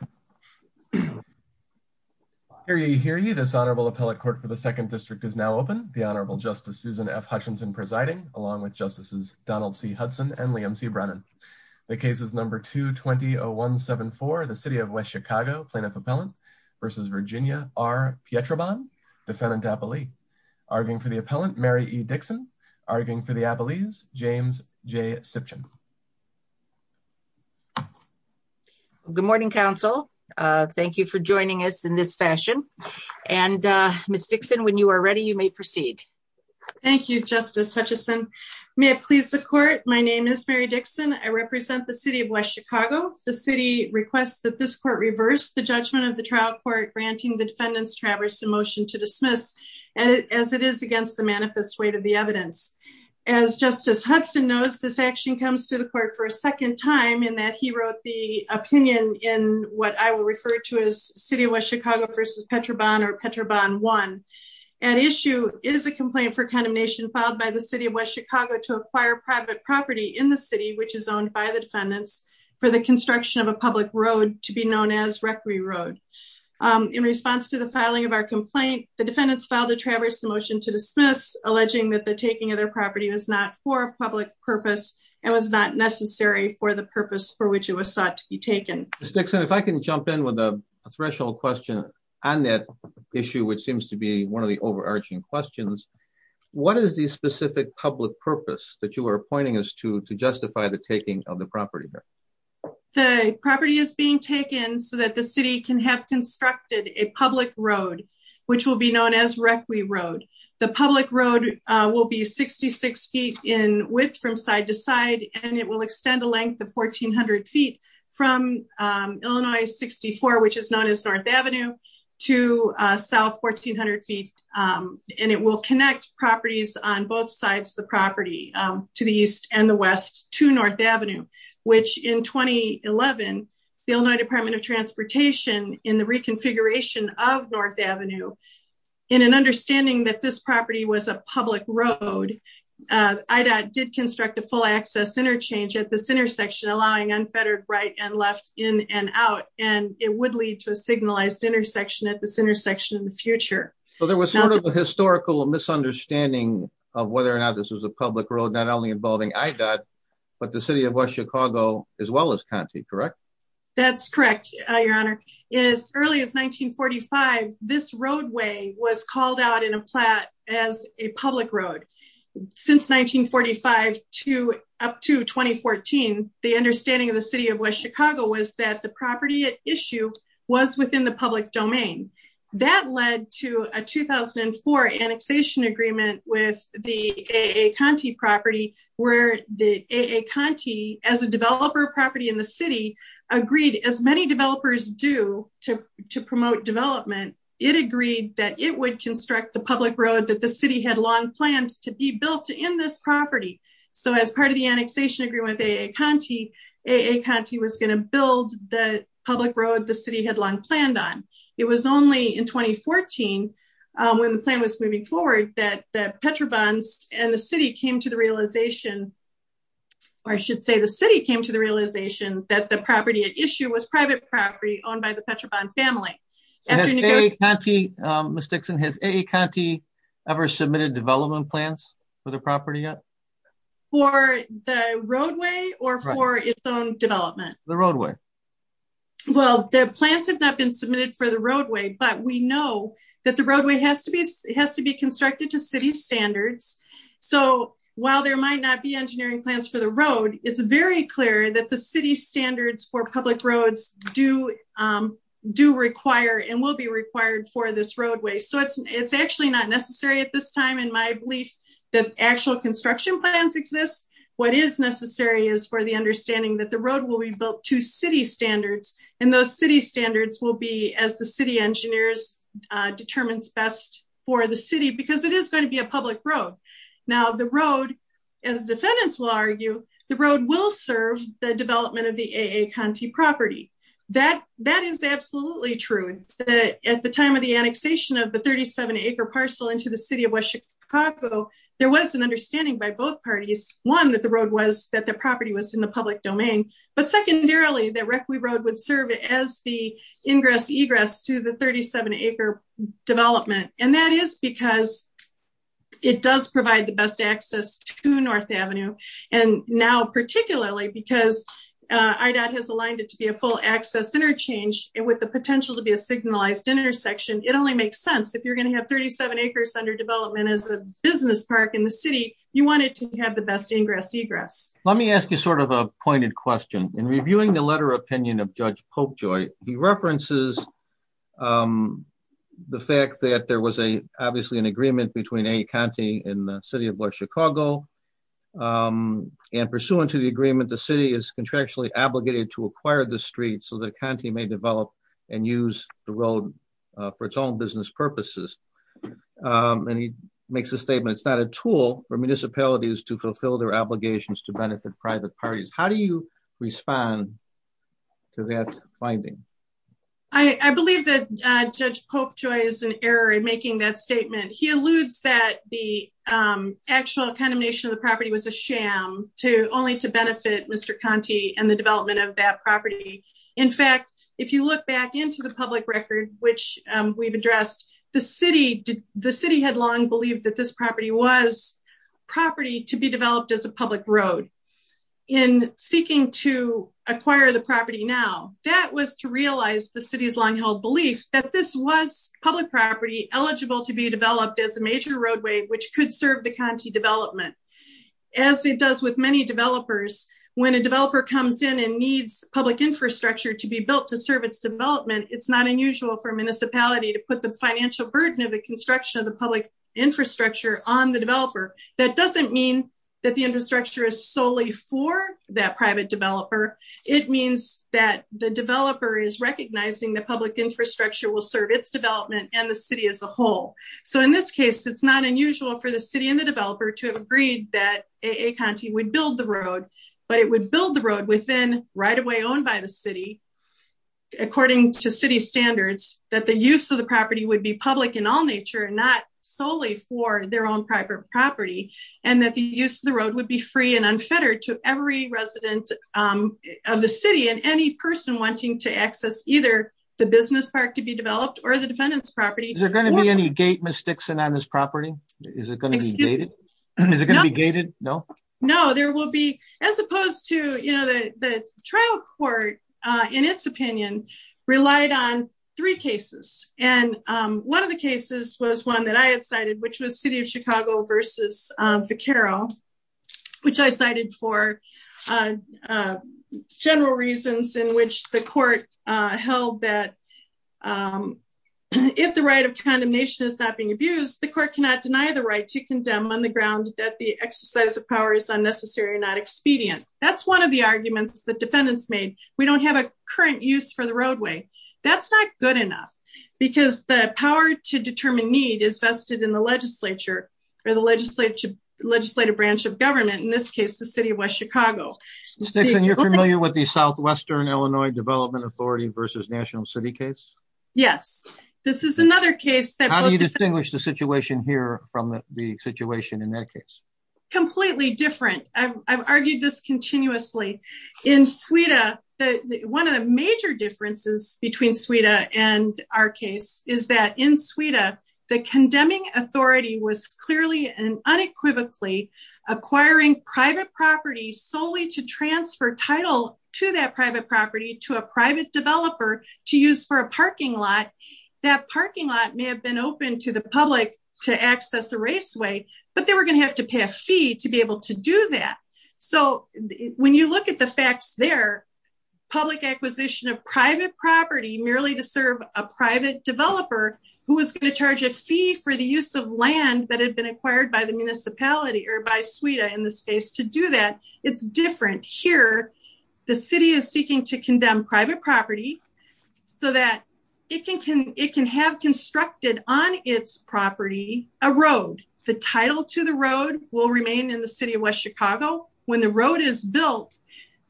v. Virginia v. Pietrobon. Hear ye, hear ye. This Honorable Appellate Court for the Second District is now open. The Honorable Justice Susan F. Hutchinson presiding, along with Justices Donald C. Hudson and Liam C. Brennan. The case is number 220174, the City of West Chicago Plaintiff Appellant v. Virginia v. Pietrobon, Defendant Appellee. Arguing for the Appellant, Mary E. Dixon. Arguing for the Appellees, James J. Siption. Good morning, Counsel. Thank you for joining us in this fashion. And, Ms. Dixon, when you are ready, you may proceed. Thank you, Justice Hutchinson. May it please the Court, my name is Mary Dixon. I represent the City of West Chicago. The City requests that this Court reverse the judgment of the trial court granting the Defendant's Traverse a motion to dismiss, as it is against the manifest weight of the evidence. As Justice Hudson knows, this action comes to the Court for a second time in that he wrote the opinion in what I will refer to as City of West Chicago v. Pietrobon or Pietrobon 1. At issue is a complaint for condemnation filed by the City of West Chicago to acquire private property in the City, which is owned by the Defendants, for the construction of a public road to be known as Recre Road. In response to the filing of our complaint, the Defendants filed a Traverse a motion to dismiss, alleging that the taking of their property was not for a public purpose and was not necessary for the purpose for which it was sought to be taken. Ms. Dixon, if I can jump in with a threshold question on that issue, which seems to be one of the overarching questions. What is the specific public purpose that you are pointing us to, to justify the taking of the property there? The property is being taken so that the City can have constructed a public road, which will be known as Recre Road. The public road will be 66 feet in width from side to side, and it will extend the length of 1400 feet from Illinois 64, which is known as North Avenue to South 1400 feet. And it will connect properties on both sides of the property, to the east and the west, to North Avenue, which in 2011, the Illinois Department of Transportation, in the reconfiguration of North Avenue, in an understanding that this property was a public road, IDOT did construct a full access interchange at this intersection, allowing unfettered right and left in and out, and it would lead to a signalized intersection at this intersection in the future. So there was sort of a historical misunderstanding of whether or not this was a public road, not only involving IDOT, but the City of West Chicago, as well as Conte, correct? That's correct, Your Honor. As early as 1945, this roadway was called out in a plat as a public road. Since 1945 to up to 2014, the understanding of the City of West Chicago was that the property at issue was within the public domain. That led to a 2004 annexation agreement with the A.A. Conte property, where the A.A. Conte, as a developer property in the city, agreed, as many developers do to promote development, it agreed that it would construct the public road that the city had long planned to be built in this property. So as part of the annexation agreement with A.A. Conte, A.A. Conte was going to build the public road the city had long planned on. It was only in 2014, when the plan was moving forward, that Petrobon and the city came to the realization, or I should say the city came to the realization, that the property at issue was private property owned by the Petrobon family. Has A.A. Conte, Ms. Dixon, has A.A. Conte ever submitted development plans for the property yet? For the roadway or for its own development? The roadway. Well, the plans have not been submitted for the roadway, but we know that the roadway has to be constructed to city standards. So while there might not be engineering plans for the road, it's very clear that the city standards for public roads do require and will be required for this roadway. So it's actually not necessary at this time in my belief that actual construction plans exist. What is necessary is for the understanding that the road will be built to city standards and those city standards will be as the city engineers determines best for the city because it is going to be a public road. Now the road, as defendants will argue, the road will serve the development of the A.A. Conte property. That is absolutely true. At the time of the annexation of the 37 acre parcel into the city of West Chicago, there was an understanding by both parties. One, that the road was that the property was in the public domain, but secondarily that Requi Road would serve as the ingress egress to the 37 acre development. And that is because it does provide the best access to North Avenue. And now, particularly because IDOT has aligned it to be a full access interchange and with the potential to be a signalized intersection, it only makes sense if you're going to have 37 acres under development as a business park in the city, you want it to have the best ingress egress. Let me ask you sort of a pointed question. In reviewing the letter opinion of Judge Popejoy, he references the fact that there was a obviously an agreement between A.A. Conte and the city of West Chicago. And pursuant to the agreement, the city is contractually obligated to acquire the street so that Conte may develop and use the road for its own business purposes. And he makes a statement, it's not a tool for municipalities to fulfill their obligations to benefit private parties. How do you respond to that finding? I believe that Judge Popejoy is in error in making that statement. He alludes that the actual condemnation of the property was a sham to only to benefit Mr. Conte and the development of that property. In fact, if you look back into the public record, which we've addressed, the city had long believed that this property was property to be developed as a public road. In seeking to acquire the property now, that was to realize the city's long held belief that this was public property eligible to be developed as a major roadway, which could serve the Conte development. As it does with many developers, when a developer comes in and needs public infrastructure to be built to serve its development, it's not unusual for municipality to put the financial burden of the construction of the public infrastructure on the developer. That doesn't mean that the infrastructure is solely for that private developer. It means that the developer is recognizing the public infrastructure will serve its development and the city as a whole. So in this case, it's not unusual for the city and the developer to have agreed that a Conte would build the road, but it would build the road within right away owned by the city. According to city standards that the use of the property would be public in all nature and not solely for their own private property, and that the use of the road would be free and unfettered to every resident of the city and any person wanting to access either the business park to be developed or the defendants property, they're going to be any gate mistakes and on this property. Is it going to be dated. No, no, there will be, as opposed to, you know, the trial court, in its opinion, relied on three cases, and one of the cases was one that I had cited which was city of Chicago versus the Carol, which I cited for general reasons in which the court held that if the right of condemnation is not being abused the court cannot deny the right to condemn on the ground that the exercise of power is unnecessary or not expedient. That's one of the arguments that defendants made, we don't have a current use for the roadway. That's not good enough, because the power to determine need is vested in the legislature or the legislature legislative branch of government in this case the city of Chicago. And you're familiar with the Southwestern Illinois Development Authority versus National City case. Yes, this is another case that you distinguish the situation here from the situation in that case, completely different. I've argued this continuously in Sweden, the one of the major differences between Sweden and our case is that in Sweden, the condemning authority was clearly and unequivocally acquiring private property solely to transfer title to that private property to a private So, when you look at the facts there, public acquisition of private property merely to serve a private developer, who is going to charge a fee for the use of land that had been acquired by the municipality or by Sweden in this case to do that. Here, the city is seeking to condemn private property, so that it can have constructed on its property, a road, the title to the road will remain in the city of West Chicago, when the road is built,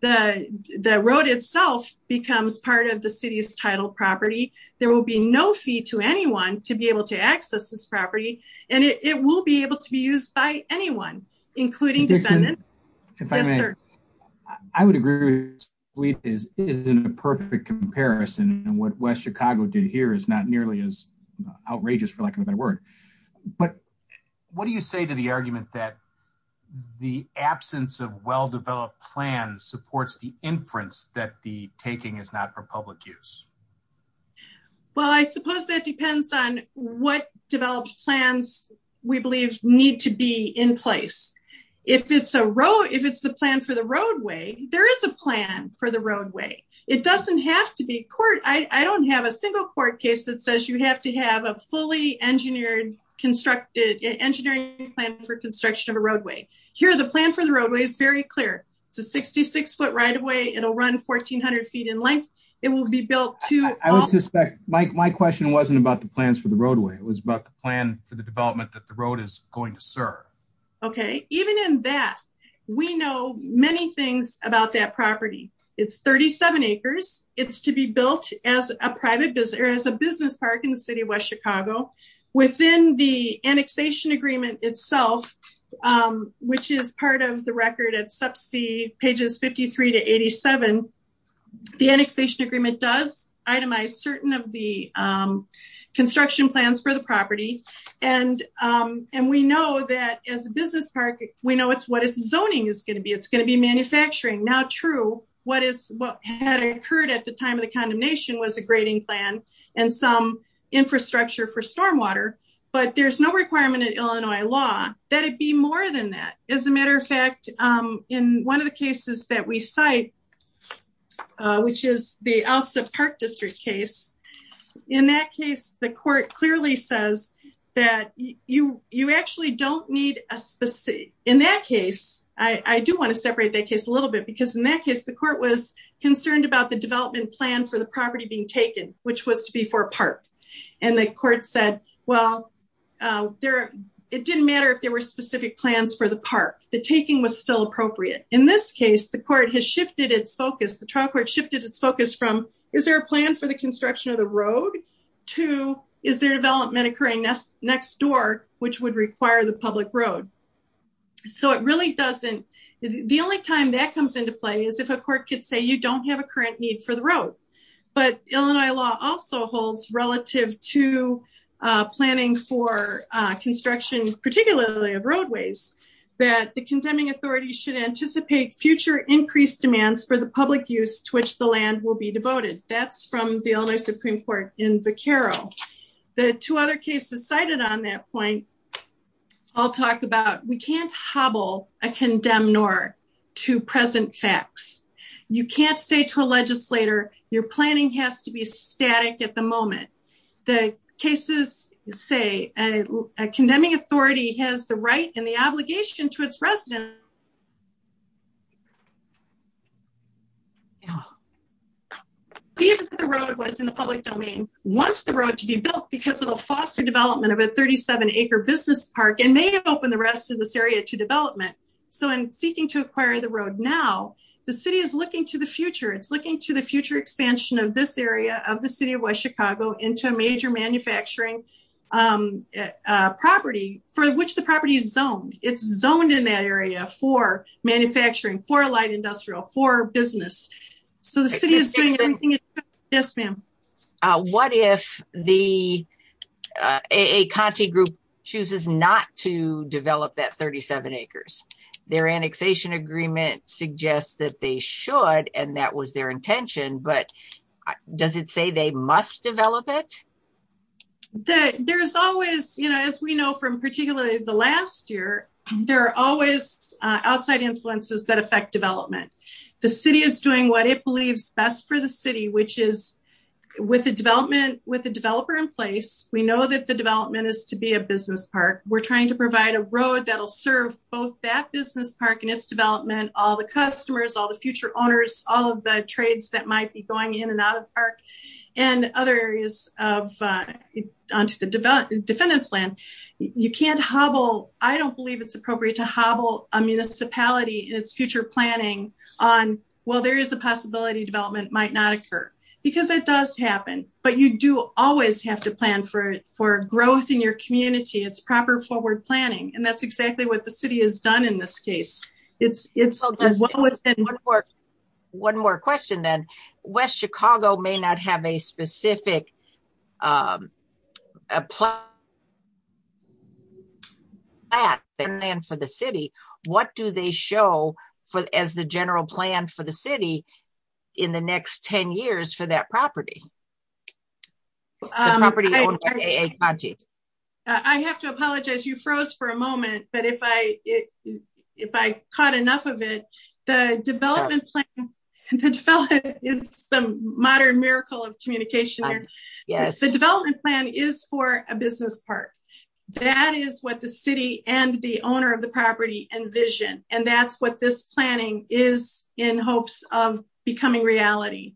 the road itself becomes part of the city's title property, there will be no fee to anyone to be able to access this property, and it will be able to be used by anyone, including defendants. I would agree with you, it isn't a perfect comparison, and what West Chicago did here is not nearly as outrageous for lack of a better word, but what do you say to the argument that the absence of well-developed plans supports the inference that the taking is not for public use? Well, I suppose that depends on what developed plans we believe need to be in place. If it's a road, if it's the plan for the roadway, there is a plan for the roadway, it doesn't have to be court, I don't have a single court case that says you have to have a fully engineered constructed engineering plan for construction of a roadway. Here, the plan for the roadway is very clear, it's a 66 foot right-of-way, it'll run 1400 feet in length, it will be built to- I would suspect, my question wasn't about the plans for the roadway, it was about the plan for the development that the road is going to serve. Okay, even in that, we know many things about that property. It's 37 acres, it's to be built as a private business or as a business park in the city of West Chicago. Within the annexation agreement itself, which is part of the record at sub C pages 53 to 87, the annexation agreement does itemize certain of the construction plans for the property. We know that as a business park, we know it's what its zoning is going to be, it's going to be manufacturing. Now true, what had occurred at the time of the condemnation was a grading plan and some infrastructure for stormwater, but there's no requirement in Illinois law that it be more than that. As a matter of fact, in one of the cases that we cite, which is the Alsop Park District case, in that case, the court clearly says that you actually don't need a specific- in that case, I do want to separate that case a little bit because in that case, the court was concerned about the development plan for the property being taken, which was to be for a park. And the court said, well, it didn't matter if there were specific plans for the park, the taking was still appropriate. In this case, the court has shifted its focus, the trial court shifted its focus from, is there a plan for the construction of the road to is there development occurring next door, which would require the public road. So it really doesn't- the only time that comes into play is if a court could say you don't have a current need for the road. But Illinois law also holds relative to planning for construction, particularly of roadways, that the condemning authority should anticipate future increased demands for the public use to which the land will be devoted. That's from the Illinois Supreme Court in Vaquero. The two other cases cited on that point all talk about we can't hobble a condemn-nor to present facts. You can't say to a legislator, your planning has to be static at the moment. The cases say a condemning authority has the right and the obligation to its residents. Even if the road was in the public domain, wants the road to be built because it'll foster development of a 37 acre business park and may open the rest of this area to development. So in seeking to acquire the road now, the city is looking to the future. It's looking to the future expansion of this area of the city of West Chicago into a major manufacturing property for which the property is zoned. It's zoned in that area for manufacturing, for light industrial, for business. So the city is doing everything it can. Yes, ma'am. What if the A.A. Conte group chooses not to develop that 37 acres? Their annexation agreement suggests that they should, and that was their intention, but does it say they must develop it? There is always, you know, as we know from particularly the last year, there are always outside influences that affect development. The city is doing what it believes best for the city, which is with the development, with the developer in place. We know that the development is to be a business park. We're trying to provide a road that'll serve both that business park and its development, all the customers, all the future owners, all of the trades that might be going in and out of park and other areas onto the defendant's land. You can't hobble. I don't believe it's appropriate to hobble a municipality in its future planning on, well, there is a possibility development might not occur because it does happen, but you do always have to plan for it for growth in your community. It's proper forward planning, and that's exactly what the city has done in this case. One more question then. West Chicago may not have a specific plan for the city. What do they show as the general plan for the city in the next 10 years for that property? I have to apologize. You froze for a moment, but if I, if I caught enough of it, the development plan is some modern miracle of communication. Yes, the development plan is for a business park. That is what the city and the owner of the property envision, and that's what this planning is in hopes of becoming reality.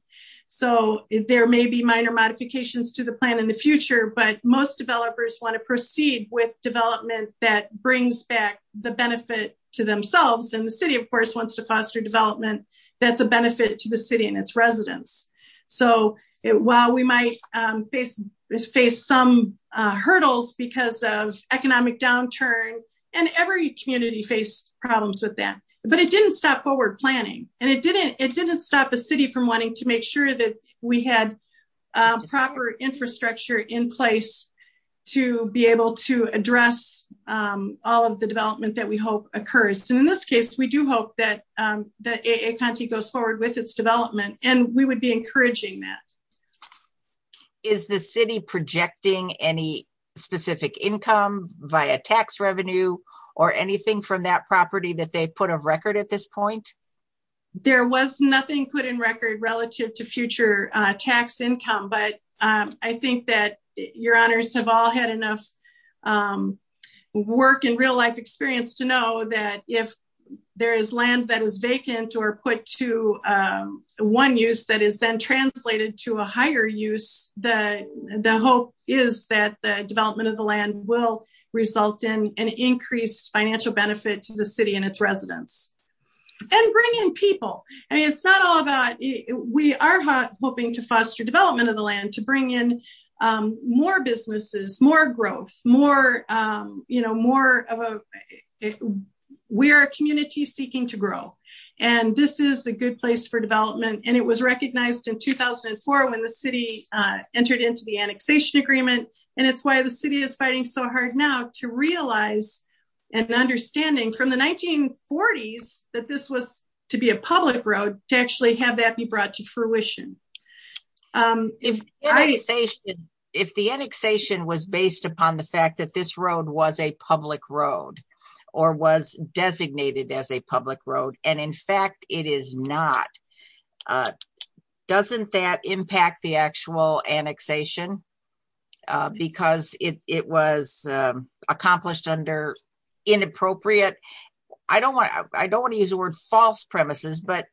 So, there may be minor modifications to the plan in the future, but most developers want to proceed with development that brings back the benefit to themselves and the city of course wants to foster development. That's a benefit to the city and its residents. So, while we might face face some hurdles because of economic downturn, and every community face problems with that, but it didn't stop forward planning, and it didn't it didn't stop a city from wanting to make sure that we had proper infrastructure in place to be able to address all of the development that we hope occurs to in this case we do hope that the county goes forward with its development, and we would be encouraging that is the city projecting any specific income via tax revenue or anything from that property that they put a record at this point. There was nothing put in record relative to future tax income but I think that your honors have all had enough work in real life experience to know that if there is land that is vacant or put to one use that is then translated to a higher use the, the hope is that the development of the land will result in an increased financial benefit to the city and its residents and bring in people. I mean it's not all about it, we are hoping to foster development of the land to bring in more businesses more growth, you know more of a. We are a community seeking to grow. And this is a good place for development and it was recognized in 2004 when the city entered into the annexation agreement, and it's why the city is fighting so hard now to realize and understanding from the 1940s, that this was to be a public road to actually have that be brought to fruition. If I say, if the annexation was based upon the fact that this road was a public road, or was designated as a public road, and in fact it is not. Doesn't that impact the actual annexation, because it was accomplished under inappropriate. I don't want, I don't want to use the word false premises but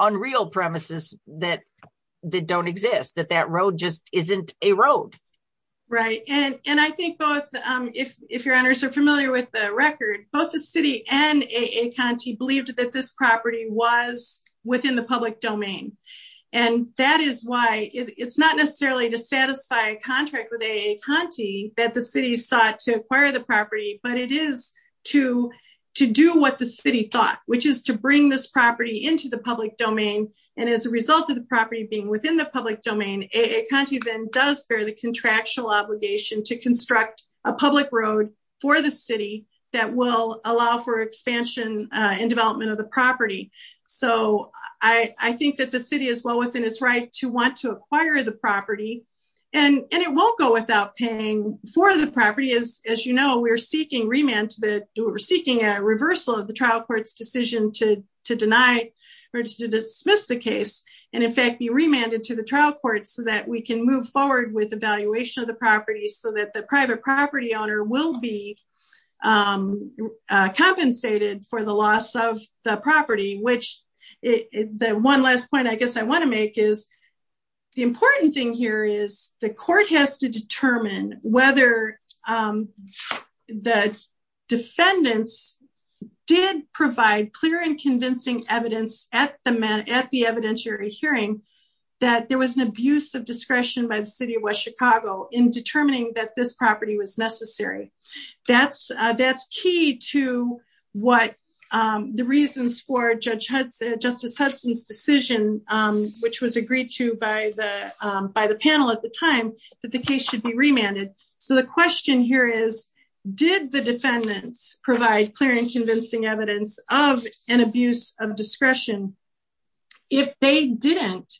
unreal premises that that don't exist that that road just isn't a road. Right. And, and I think both. If, if your honors are familiar with the record, both the city and a county believed that this property was within the public domain. And that is why it's not necessarily to satisfy a contract with a county that the city sought to acquire the property, but it is to, to do what the city thought, which is to bring this property into the public domain. And as a result of the property being within the public domain, a country then does bear the contractual obligation to construct a public road for the city that will allow for expansion and development of the property. So, I think that the city as well within its right to want to acquire the property, and it won't go without paying for the property is, as you know, we're seeking remand that we're seeking a reversal of the trial courts decision to to deny or to dismiss the case, and in fact be remanded to the trial court so that we can move forward with evaluation of the property so that the private property owner will be compensated for the loss of the property which is the one last point I guess I want to make is the hearing that there was an abuse of discretion by the city of West Chicago in determining that this property was necessary. That's, that's key to what the reasons for Judge Hudson Justice Hudson's decision, which was agreed to by the, by the panel at the time that the case should be remanded. So the question here is, did the defendants provide clear and convincing evidence of an abuse of discretion. If they didn't,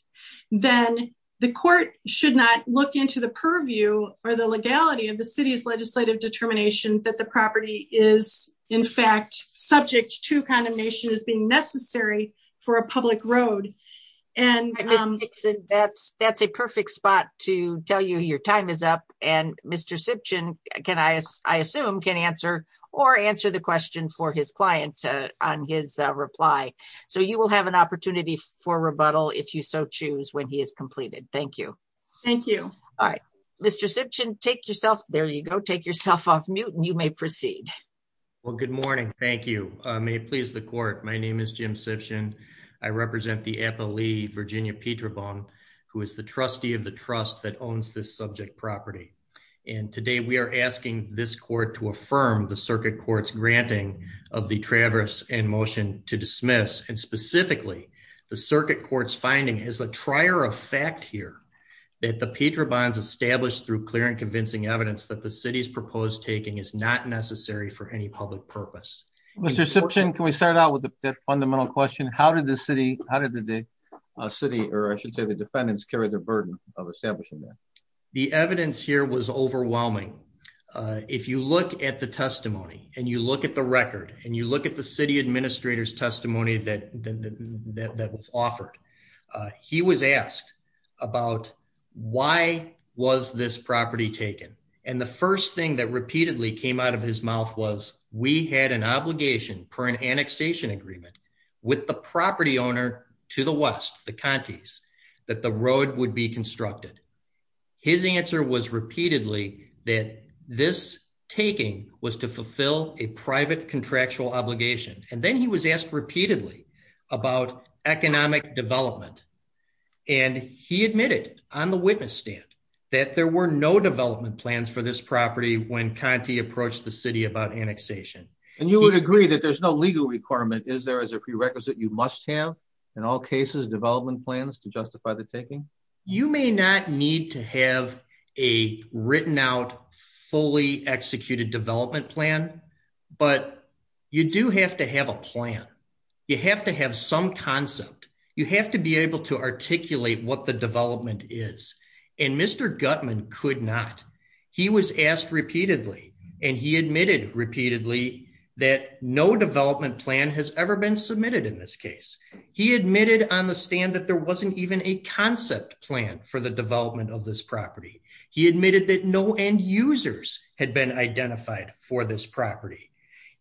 then the court should not look into the purview, or the legality of the city's legislative determination that the property is in fact subject to condemnation as being necessary for a public road. And that's, that's a perfect spot to tell you your time is up, and Mr Simpson, can I, I assume can answer or answer the question for his client on his reply. So you will have an opportunity for rebuttal if you so choose when he is completed. Thank you. Thank you. All right, Mr Simpson take yourself there you go take yourself off mute and you may proceed. Well, good morning. Thank you. May please the court. My name is Jim session. I represent the Apple leave Virginia Peter bone, who is the trustee of the trust that owns this subject property. And today we are asking this court to affirm the circuit courts granting of the traverse and motion to dismiss and specifically the circuit courts finding is a trier of fact here that the Peter bonds established through clear and convincing evidence that the city's proposed taking is not necessary for any public purpose. Mr Simpson can we start out with the fundamental question how did the city, how did the city, or I should say the defendants carry the burden of establishing the evidence here was overwhelming. If you look at the testimony, and you look at the record, and you look at the city administrators testimony that that was offered. He was asked about why was this property taken. And the first thing that repeatedly came out of his mouth was, we had an obligation for an annexation agreement with the property owner to the west, the counties that the road would be constructed. His answer was repeatedly that this taking was to fulfill a private contractual obligation, and then he was asked repeatedly about economic development. And he admitted on the witness stand that there were no development plans for this property when Conti approached the city about annexation, and you would agree that there's no legal requirement is there as a prerequisite you must have, in all cases development plans to justify the taking. You may not need to have a written out fully executed development plan, but you do have to have a plan. You have to have some concept, you have to be able to articulate what the development is. And Mr Gutman could not. He was asked repeatedly, and he admitted repeatedly that no development plan has ever been submitted in this case. He admitted on the stand that there wasn't even a concept plan for the development of this property. He admitted that no end users had been identified for this property.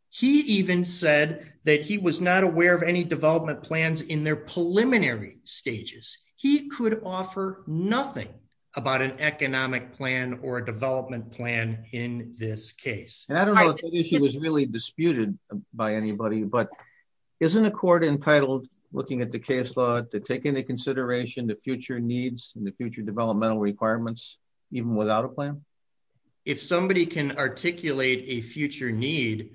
He even said that he was not aware of any development plans in their preliminary stages, he could offer nothing about an economic plan or development plan in this case, and I don't know if it was really disputed by anybody but isn't a court entitled, looking at the case to take into consideration the future needs and the future developmental requirements, even without a plan. If somebody can articulate a future need,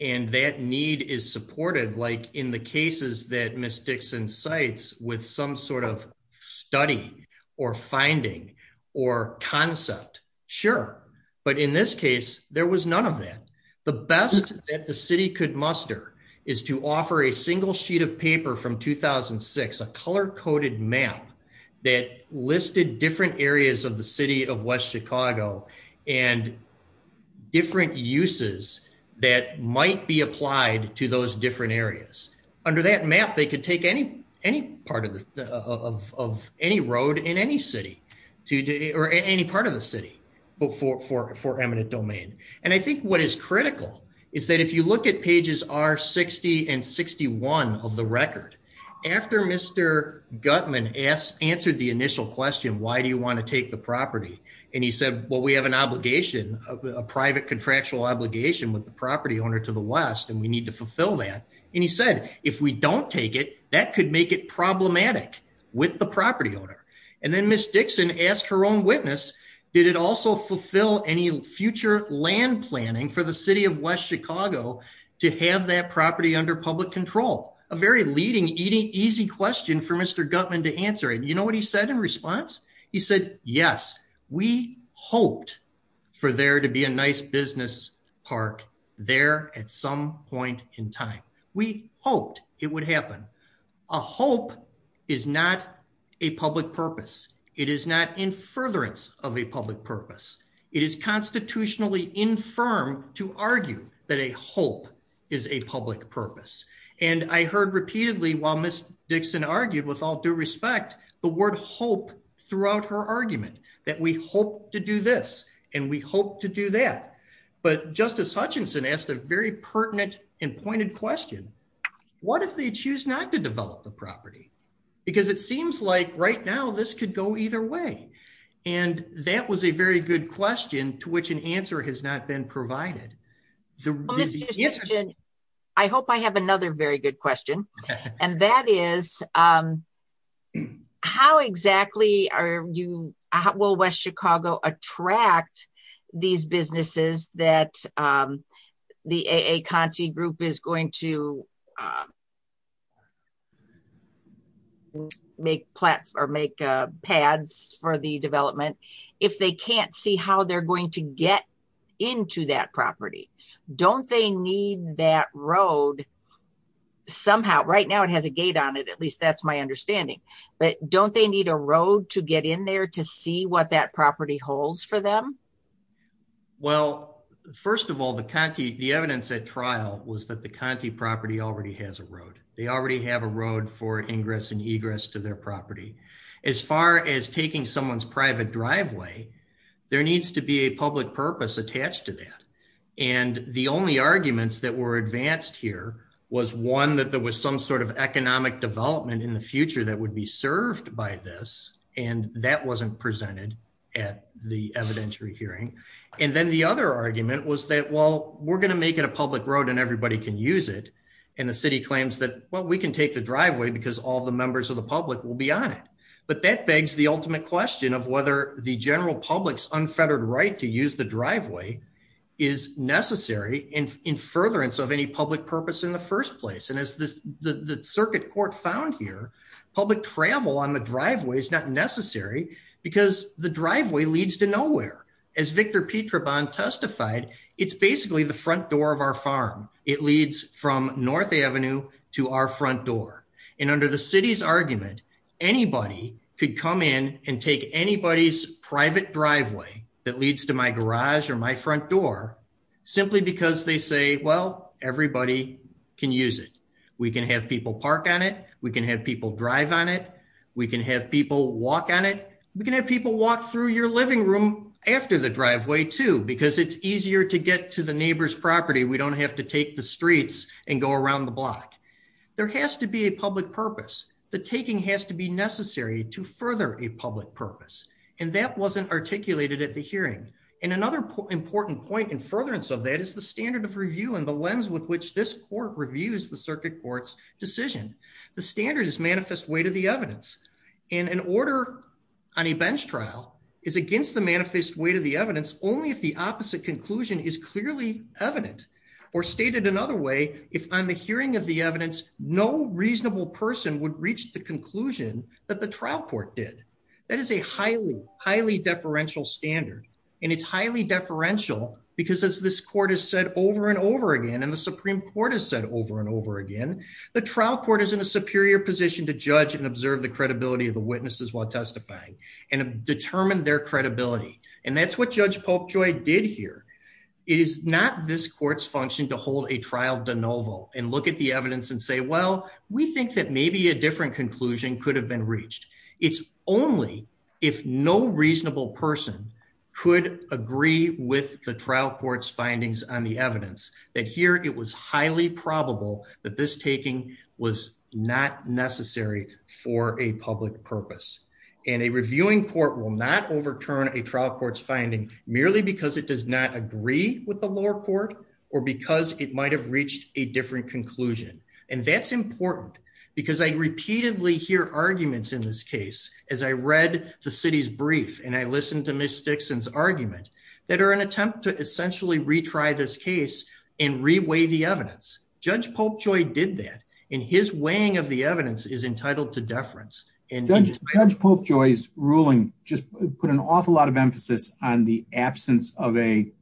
and that need is supported like in the cases that mistakes and sites with some sort of study or finding or concept. Sure. But in this case, there was none of that. The best that the city could muster is to offer a single sheet of paper from 2006 a color coded map that listed different areas of the city of West Chicago, and different uses that might be applied to those for for for eminent domain. And I think what is critical is that if you look at pages are 60 and 61 of the record. After Mr. Gutman asked answered the initial question why do you want to take the property, and he said, well we have an obligation of a private contractual to also fulfill any future land planning for the city of West Chicago, to have that property under public control, a very leading eating easy question for Mr. Gutman to answer and you know what he said in response, he said, Yes, we hoped for there to be a nice public purpose. It is constitutionally infirm to argue that a hope is a public purpose. And I heard repeatedly while Miss Dixon argued with all due respect, the word hope throughout her argument that we hope to do this, and we hope to do that. But Justice Hutchinson asked a very pertinent and pointed question. What if they choose not to develop the property, because it seems like right now this could go either way. And that was a very good question to which an answer has not been provided. I hope I have another very good question. And that is, how exactly are you, how will West Chicago attract these businesses that the a Conti group is going to make plans or make pads for the development. If they can't see how they're going to get into that property. Don't they need that road. Somehow right now it has a gate on it at least that's my understanding, but don't they need a road to get in there to see what that property holds for them. Well, first of all the county, the evidence at trial was that the county property already has a road, they already have a road for ingress and egress to their property, as far as taking someone's private driveway. There needs to be a public purpose attached to that. And the only arguments that were advanced here was one that there was some sort of economic development in the future that would be served by this, and that wasn't presented at the evidentiary hearing. And then the other argument was that well, we're going to make it a public road and everybody can use it. And the city claims that, well, we can take the driveway because all the members of the public will be on it. But that begs the ultimate question of whether the general public's unfettered right to use the driveway is necessary and in furtherance of any public purpose in the first place and as this, the circuit court found here, public travel on the driveway is not necessary because the driveway leads to nowhere. As Victor Petroban testified, it's basically the front door of our farm. It leads from North Avenue to our front door. And under the city's argument, anybody could come in and take anybody's private driveway that leads to my garage or my front door, simply because they say, well, everybody can use it. We can have people park on it. We can have people drive on it. We can have people walk on it. We can have people walk through your living room after the driveway too, because it's easier to get to the neighbor's property. We don't have to take the streets and go around the block. There has to be a public purpose. The taking has to be necessary to further a public purpose. And that wasn't articulated at the hearing. And another important point in furtherance of that is the standard of review and the lens with which this court reviews the circuit court's decision. The standard is manifest way to the evidence. And an order on a bench trial is against the manifest way to the evidence only if the opposite conclusion is clearly evident or stated another way, if on the hearing of the evidence, no reasonable person would reach the conclusion that the trial court did. That is a highly, highly deferential standard. And it's highly deferential because as this court has said over and over again, and the Supreme Court has said over and over again, the trial court is in a superior position to judge and observe the credibility of the witnesses while testifying and determine their credibility. And that's what Judge Polkjoy did here is not this court's function to hold a trial de novo and look at the evidence and say, well, we think that maybe a different conclusion could have been reached. It's only if no reasonable person could agree with the trial court's findings on the evidence that here it was highly probable that this taking was not necessary for a public purpose. And a reviewing court will not overturn a trial court's finding merely because it does not agree with the lower court or because it might have reached a different conclusion. And that's important because I repeatedly hear arguments in this case, as I read the city's brief and I listened to Miss Dixon's argument that are an attempt to essentially retry this case and reweigh the evidence. Judge Polkjoy did that and his weighing of the evidence is entitled to deference. Judge Polkjoy's ruling just put an awful lot of emphasis on the absence of a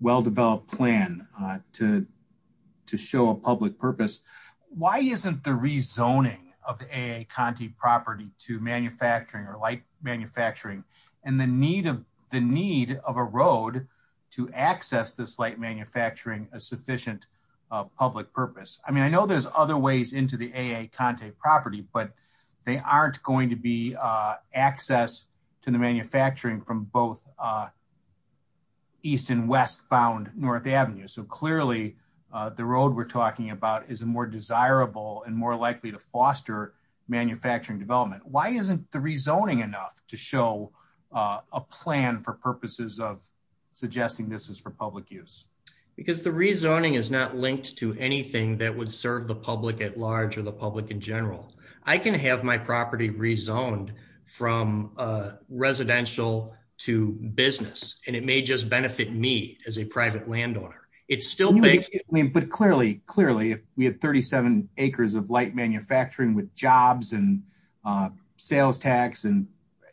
well-developed plan to show a public purpose. Why isn't the rezoning of the A.A. Conte property to manufacturing or light manufacturing and the need of the need of a road to access this light manufacturing a sufficient public purpose. I mean, I know there's other ways into the A.A. Conte property, but they aren't going to be access to the manufacturing from both east and westbound North Avenue. So clearly, the road we're talking about is a more desirable and more likely to foster manufacturing development. Why isn't the rezoning enough to show a plan for purposes of suggesting this is for public use? Because the rezoning is not linked to anything that would serve the public at large or the public in general. I can have my property rezoned from residential to business, and it may just benefit me as a private landowner. But clearly, if we have 37 acres of light manufacturing with jobs and sales tax and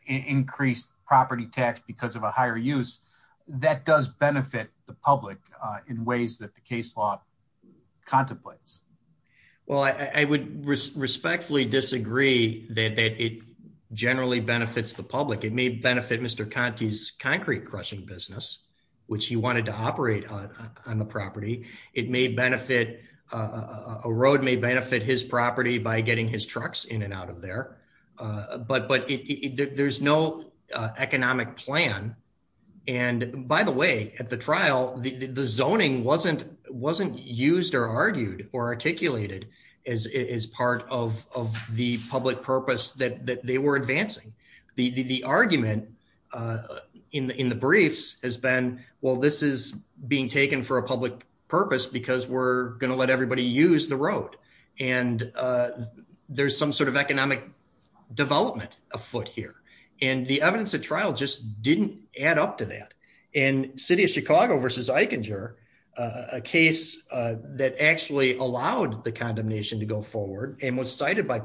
increased property tax because of a higher use, that does benefit the public in ways that the case law contemplates. Well, I would respectfully disagree that it generally benefits the public. It may benefit Mr. Conte's concrete crushing business, which he wanted to operate on the property. It may benefit a road, may benefit his property by getting his trucks in and out of there. But there's no economic plan. And by the way, at the trial, the zoning wasn't used or argued or articulated as part of the public purpose that they were advancing. The argument in the briefs has been, well, this is being taken for a public purpose because we're going to let everybody use the road. And there's some sort of economic development afoot here. And the evidence at trial just didn't add up to that. In City of Chicago versus Eichinger, a case that actually allowed the condemnation to go forward and was cited by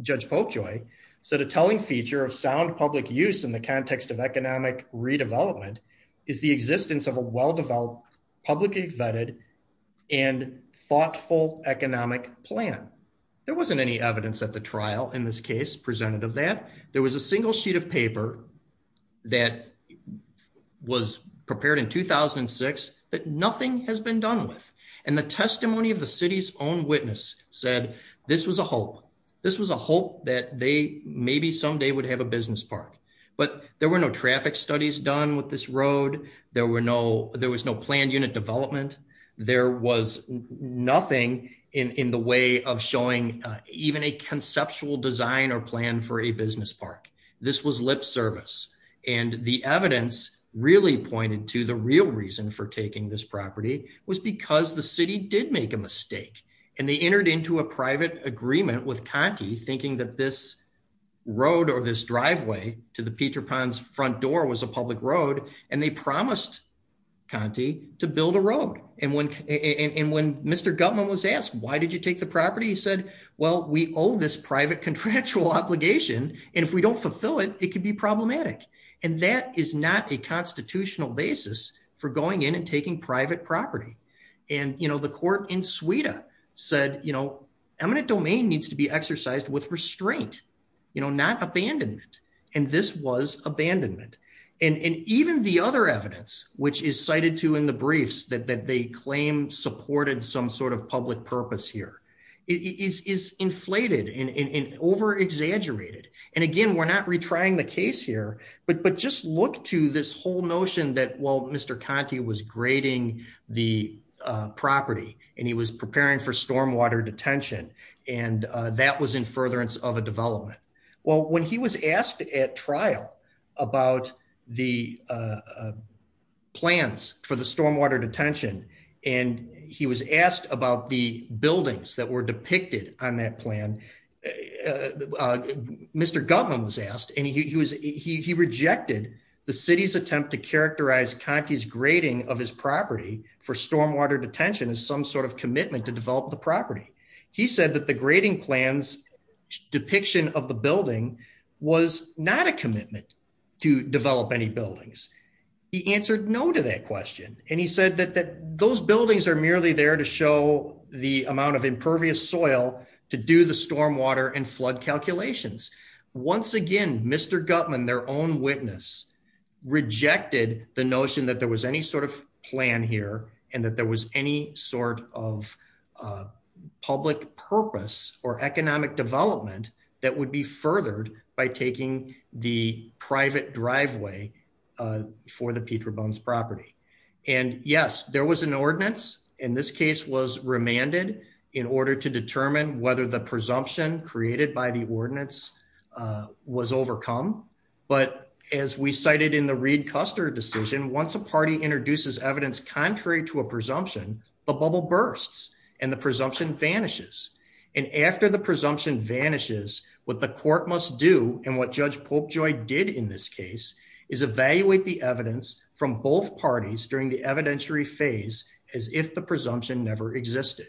Judge Popejoy said a telling feature of sound public use in the context of economic redevelopment is the existence of a well-developed publicly vetted and thoughtful economic plan. There wasn't any evidence at the trial in this case presented of that. There was a single sheet of paper that was prepared in 2006 that nothing has been done with. And the testimony of the city's own witness said this was a hope. This was a hope that they maybe someday would have a business park. But there were no traffic studies done with this road. There was no planned unit development. There was nothing in the way of showing even a conceptual design or plan for a business park. This was lip service, and the evidence really pointed to the real reason for taking this property was because the city did make a mistake. And they entered into a private agreement with Conti thinking that this road or this driveway to the Peter ponds front door was a public road, and they promised Conti to build a road, and when, and when Mr government was asked why did you take the property And, you know, the court in Sweden said, you know, eminent domain needs to be exercised with restraint, you know, not abandonment, and this was abandonment, and even the other evidence, which is cited to in the briefs that that they claim supported some sort of public purpose here is inflated and over exaggerated. And again, we're not retrying the case here, but but just look to this whole notion that well Mr Conti was grading the property, and he was preparing for stormwater detention, and that was in buildings that were depicted on that plan. Mr government was asked, and he was, he rejected the city's attempt to characterize Conti's grading of his property for stormwater detention is some sort of commitment to develop the property. He said that the grading plans depiction of the building was not a commitment to develop any buildings. He answered no to that question, and he said that that those buildings are merely there to show the amount of impervious soil to do the stormwater and flood calculations. Once again, Mr government their own witness rejected the notion that there was any sort of plan here, and that there was any sort of public purpose or economic development that would be furthered by taking the private driveway for the Peter bones property. And yes, there was an ordinance, and this case was remanded in order to determine whether the presumption created by the ordinance was overcome. But as we cited in the Reed Custer decision once a party introduces evidence contrary to a presumption, the bubble bursts, and the presumption vanishes. And after the presumption vanishes, what the court must do, and what Judge Pope joy did in this case is evaluate the evidence from both parties during the evidentiary phase, as if the presumption never existed.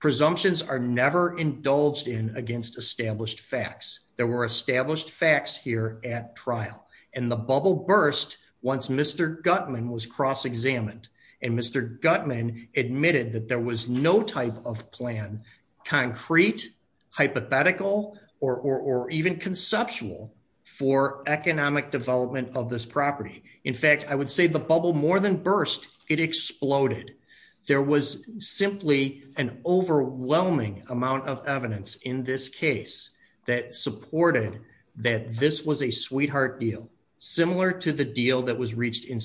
Presumptions are never indulged in against established facts, there were established facts here at trial, and the bubble burst. Once Mr gutman was cross examined and Mr gutman admitted that there was no type of plan concrete hypothetical, or even conceptual for economic development of this property. In fact, I would say the bubble more than burst, it exploded. There was simply an overwhelming amount of evidence in this case that supported that this was a sweetheart deal, similar to the deal that was reached in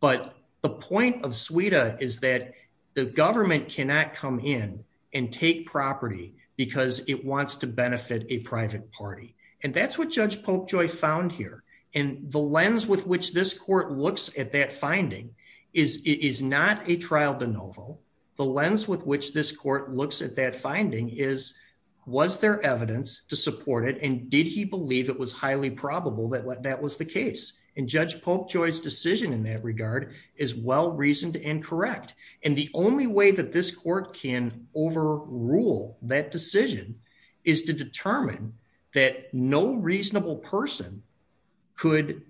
But the point of suite is that the government cannot come in and take property, because it wants to benefit a private party. And that's what Judge Pope joy found here, and the lens with which this court looks at that finding is is not a trial de novo. The lens with which this court looks at that finding is, was there evidence to support it and did he believe it was highly probable that what that was the case, and Judge Pope joy's decision in that regard is well reasoned and correct. And the only way that this court can overrule that decision is to determine that no reasonable person could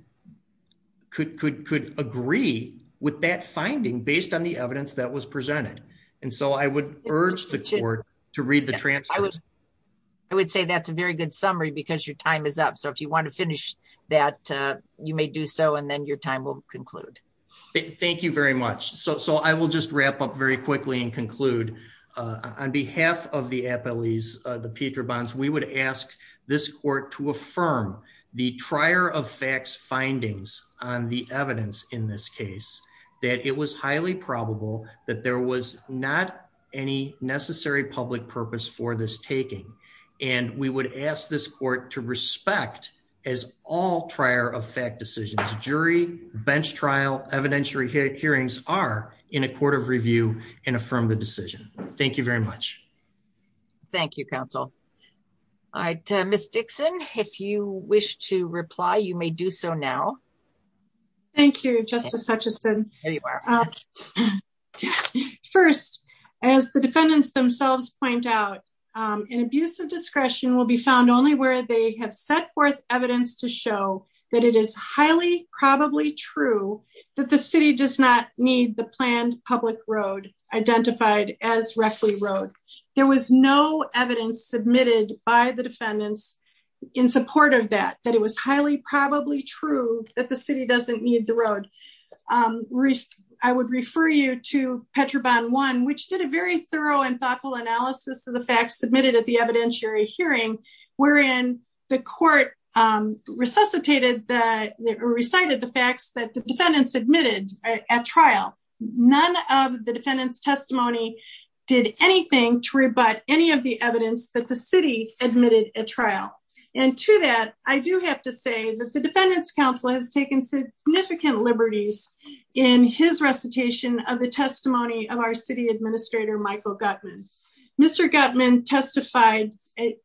could could could agree with that finding based on the evidence that was presented. And so I would urge the court to read the transcript. I would say that's a very good summary because your time is up so if you want to finish that you may do so and then your time will conclude. Thank you very much. So I will just wrap up very quickly and conclude on behalf of the appellees, the Peter bonds, we would ask this court to affirm the trier of facts findings on the evidence in this case that it was highly probable that there was not any necessary public purpose for this taking. And we would ask this court to respect as all trier of fact decisions jury bench trial evidentiary hearings are in a court of review and affirm the decision. Thank you very much. Thank you, counsel. All right, Miss Dixon, if you wish to reply you may do so now. Thank you, Justice Hutchison. First, as the defendants themselves point out, an abuse of discretion will be found only where they have set forth evidence to show that it is highly probably true that the city does not need the planned public road identified as roughly road. There was no evidence submitted by the defendants in support of that, that it was highly probably true that the city doesn't need the road. I would refer you to Petra bond one which did a very thorough and thoughtful analysis of the facts submitted at the evidentiary hearing, wherein the court resuscitated that recited the facts that the defendants admitted at trial, none of the defendants testimony did anything to rebut any of the evidence that the city admitted at trial. And to that, I do have to say that the defendants council has taken significant liberties in his recitation of the testimony of our city administrator Michael Gutmann. Mr. Gutmann testified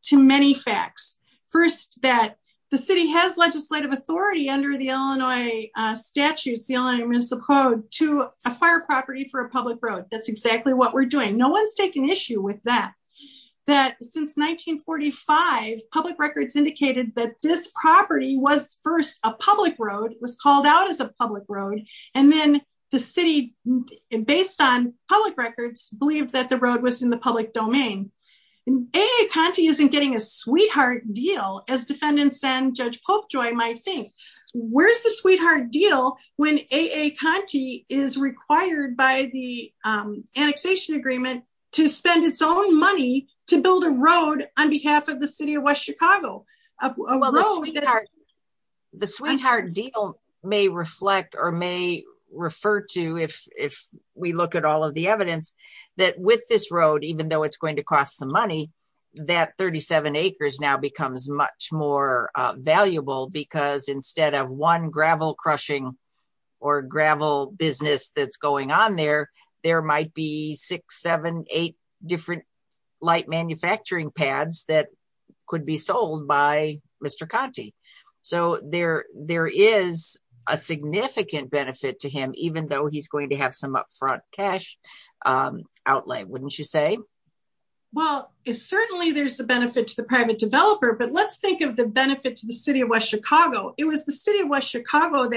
to many facts. First, that the city has legislative authority under the Illinois statutes, the Illinois municipal code to a fire property for a public road. That's exactly what we're doing. No one's taken issue with that. That since 1945 public records indicated that this property was first a public road was called out as a public road, and then the city. And based on public records believe that the road was in the public domain. Conti isn't getting a sweetheart deal as defendants and Judge Pope joy my thing. Where's the sweetheart deal when a Conti is required by the annexation agreement to spend its own money to build a road on behalf of the city of West Chicago. The sweetheart deal may reflect or may refer to if, if we look at all of the evidence that with this road even though it's going to cost some money that 37 acres now becomes much more valuable because instead of one gravel crushing or gravel business that's So there, there is a significant benefit to him, even though he's going to have some upfront cash outlay wouldn't you say, well, it's certainly there's the benefit to the private developer but let's think of the benefit to the city of West Chicago, it was the city of developer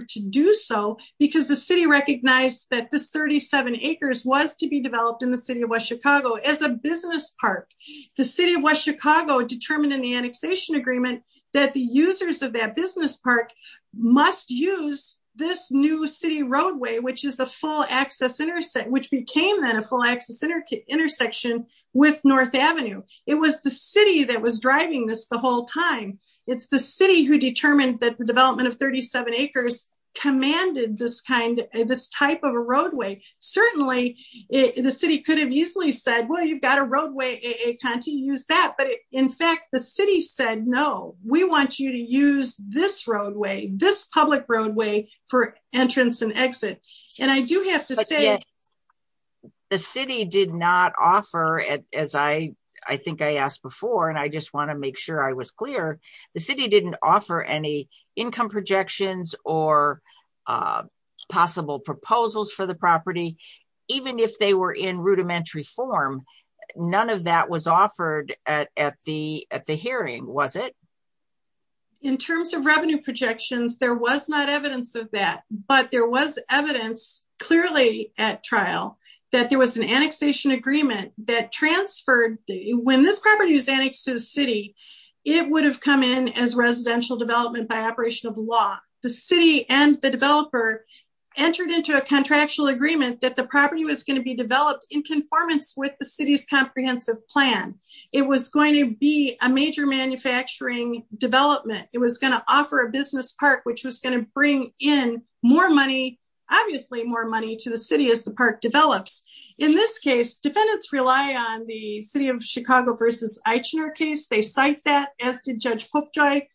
to do so, because the city recognized that this 37 acres was to be developed in the city of West Chicago as a business park, the city of West Chicago determined in the annexation agreement that the users of that business park must use this new city roadway which is a full access intercept which became then a full access intersection with North Avenue. It was the city that was driving this the whole time. It's the city who determined that the development of 37 acres commanded this kind of this type of a roadway. Certainly, the city could have easily said well you've got a roadway a Conti use that but in fact the city said no, we want you to use this roadway this public roadway for entrance and exit. And I do have to say, the city did not offer it, as I, I think I asked before and I just want to make sure I was clear, the city didn't offer any income projections or possible proposals for the property. Even if they were in rudimentary form. None of that was offered at the at the hearing was it. In terms of revenue projections there was not evidence of that, but there was evidence, clearly, at trial, that there was an annexation agreement that transferred the when this property is annexed to the city. It would have come in as residential development by operation of law, the city and the developer entered into a contractual agreement that the property was going to be developed in conformance with the city's comprehensive plan. It was going to be a major manufacturing development, it was going to offer a business part which was going to bring in more money, obviously more money to the city as the park develops. In this case defendants rely on the city of Chicago versus Eichner case they cite that as did Judge Popejoy.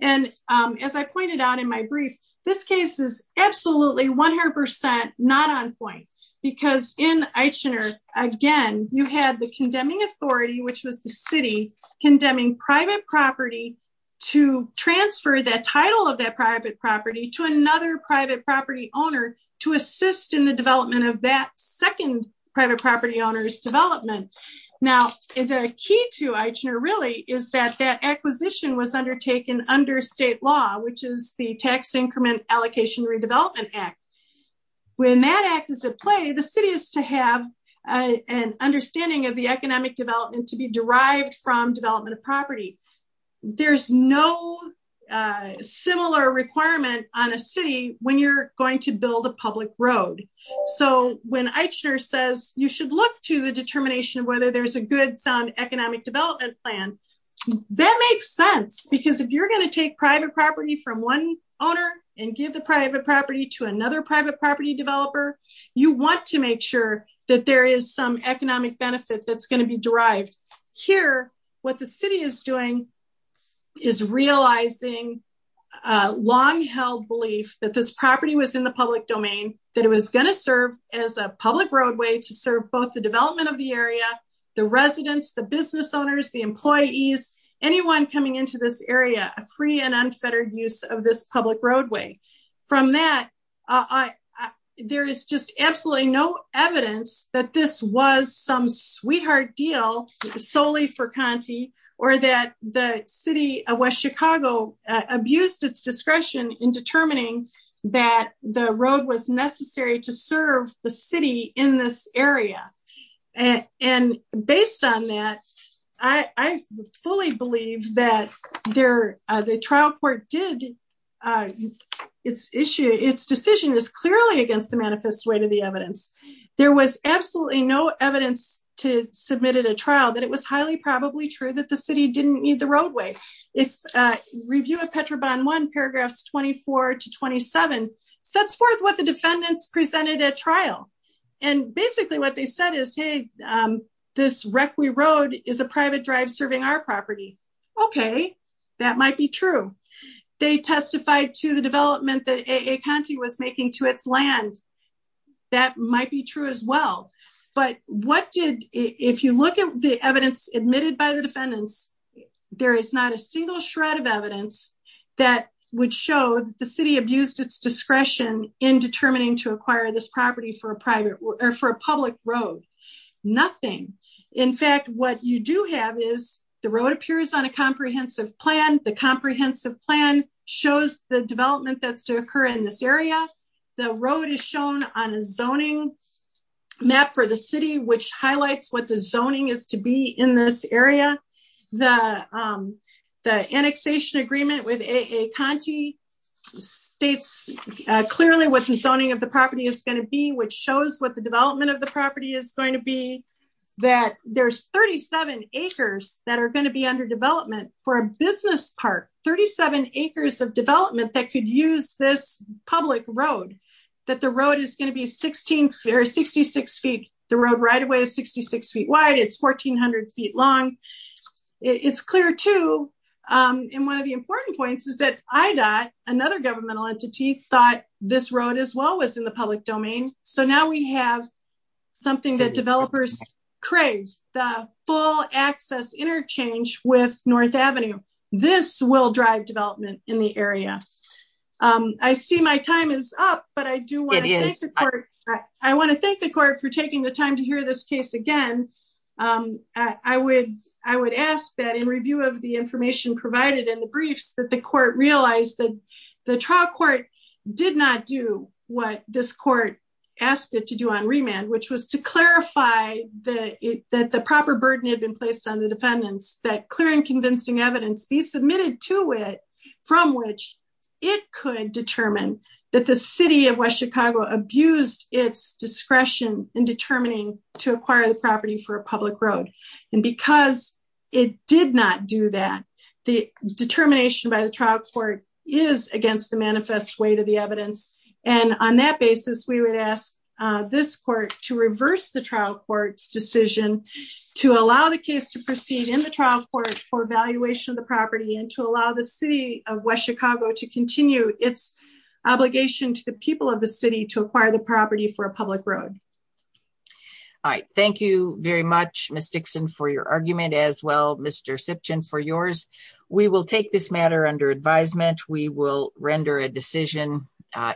And as I pointed out in my brief, this case is absolutely 100% not on point, because in Eichner, again, you had the condemning authority which was the city condemning private property to transfer that title of that private property to another private property owner to assist in the development of that second private property owners development. Now, the key to Eichner really is that that acquisition was undertaken under state law, which is the tax increment allocation redevelopment act. When that act is at play the city is to have an understanding of the economic development to be derived from development of property. There's no similar requirement on a city, when you're going to build a public road. So, when Eichner says, you should look to the determination of whether there's a good sound economic development plan. That makes sense because if you're going to take private property from one owner and give the private property to another private property developer, you want to make sure that there is some economic benefit that's going to be derived here. What the city is doing is realizing long held belief that this property was in the public domain, that it was going to serve as a public roadway to serve both the development of the area, the residents, the business owners, the employees, anyone coming into this area, a free and unfettered use of this public roadway. From that, there is just absolutely no evidence that this was some sweetheart deal solely for Conti or that the city of West Chicago abused its discretion in determining that the road was necessary to serve the city in this area. And based on that, I fully believe that the trial court did its decision is clearly against the manifest way to the evidence. There was absolutely no evidence to submitted a trial that it was highly probably true that the city didn't need the roadway. Review of Petrobon one paragraphs 24 to 27 sets forth what the defendants presented at trial. And basically what they said is, hey, this rec we rode is a private drive serving our property. Okay, that might be true. They testified to the development that a Conti was making to its land. That might be true as well. But what did, if you look at the evidence admitted by the defendants. There is not a single shred of evidence that would show the city abused its discretion in determining to acquire this property for a private or for a public road. Nothing. In fact, what you do have is the road appears on a comprehensive plan, the comprehensive plan shows the development that's to occur in this area, the road is shown on a zoning map for the city which highlights what the zoning is to be in this area. The annexation agreement with a Conti states, clearly what the zoning of the property is going to be which shows what the development of the property is going to be that there's 37 acres that are going to be under development for a business part 37 acres of development that could use this public road that the road is going to be 16 or 66 feet. The road right away 66 feet wide it's 1400 feet long. It's clear to in one of the important points is that I got another governmental entity thought this road as well as in the public domain. So now we have something that developers craves the full access interchange with North Avenue. This will drive development in the area. I see my time is up, but I do want to. I want to thank the court for taking the time to hear this case again. I would, I would ask that in review of the information provided in the briefs that the court realized that the trial court did not do what this court asked it to do on remand which was to clarify the, that the proper burden had been placed on the defendants that clear and convincing evidence be submitted to it, from which it could determine that the city of West Chicago abused its discretion in determining to acquire the property for a public road, and because it did not do that. The determination by the trial court is against the manifest way to the evidence, and on that basis we would ask this court to reverse the trial courts decision to allow the case to proceed in the trial court for evaluation of the property and to allow the city of West Chicago to continue its obligation to the people of the city to acquire the property for a public road. All right, thank you very much mystics and for your argument as well, Mr Simpson for yours. We will take this matter under advisement we will render a decision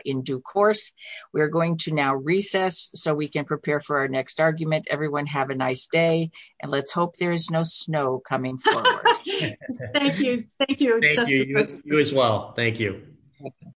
in due course, we're going to now recess, so we can prepare for our next argument everyone have a nice day, and let's hope there is no snow coming. Thank you. Thank you. You as well. Thank you.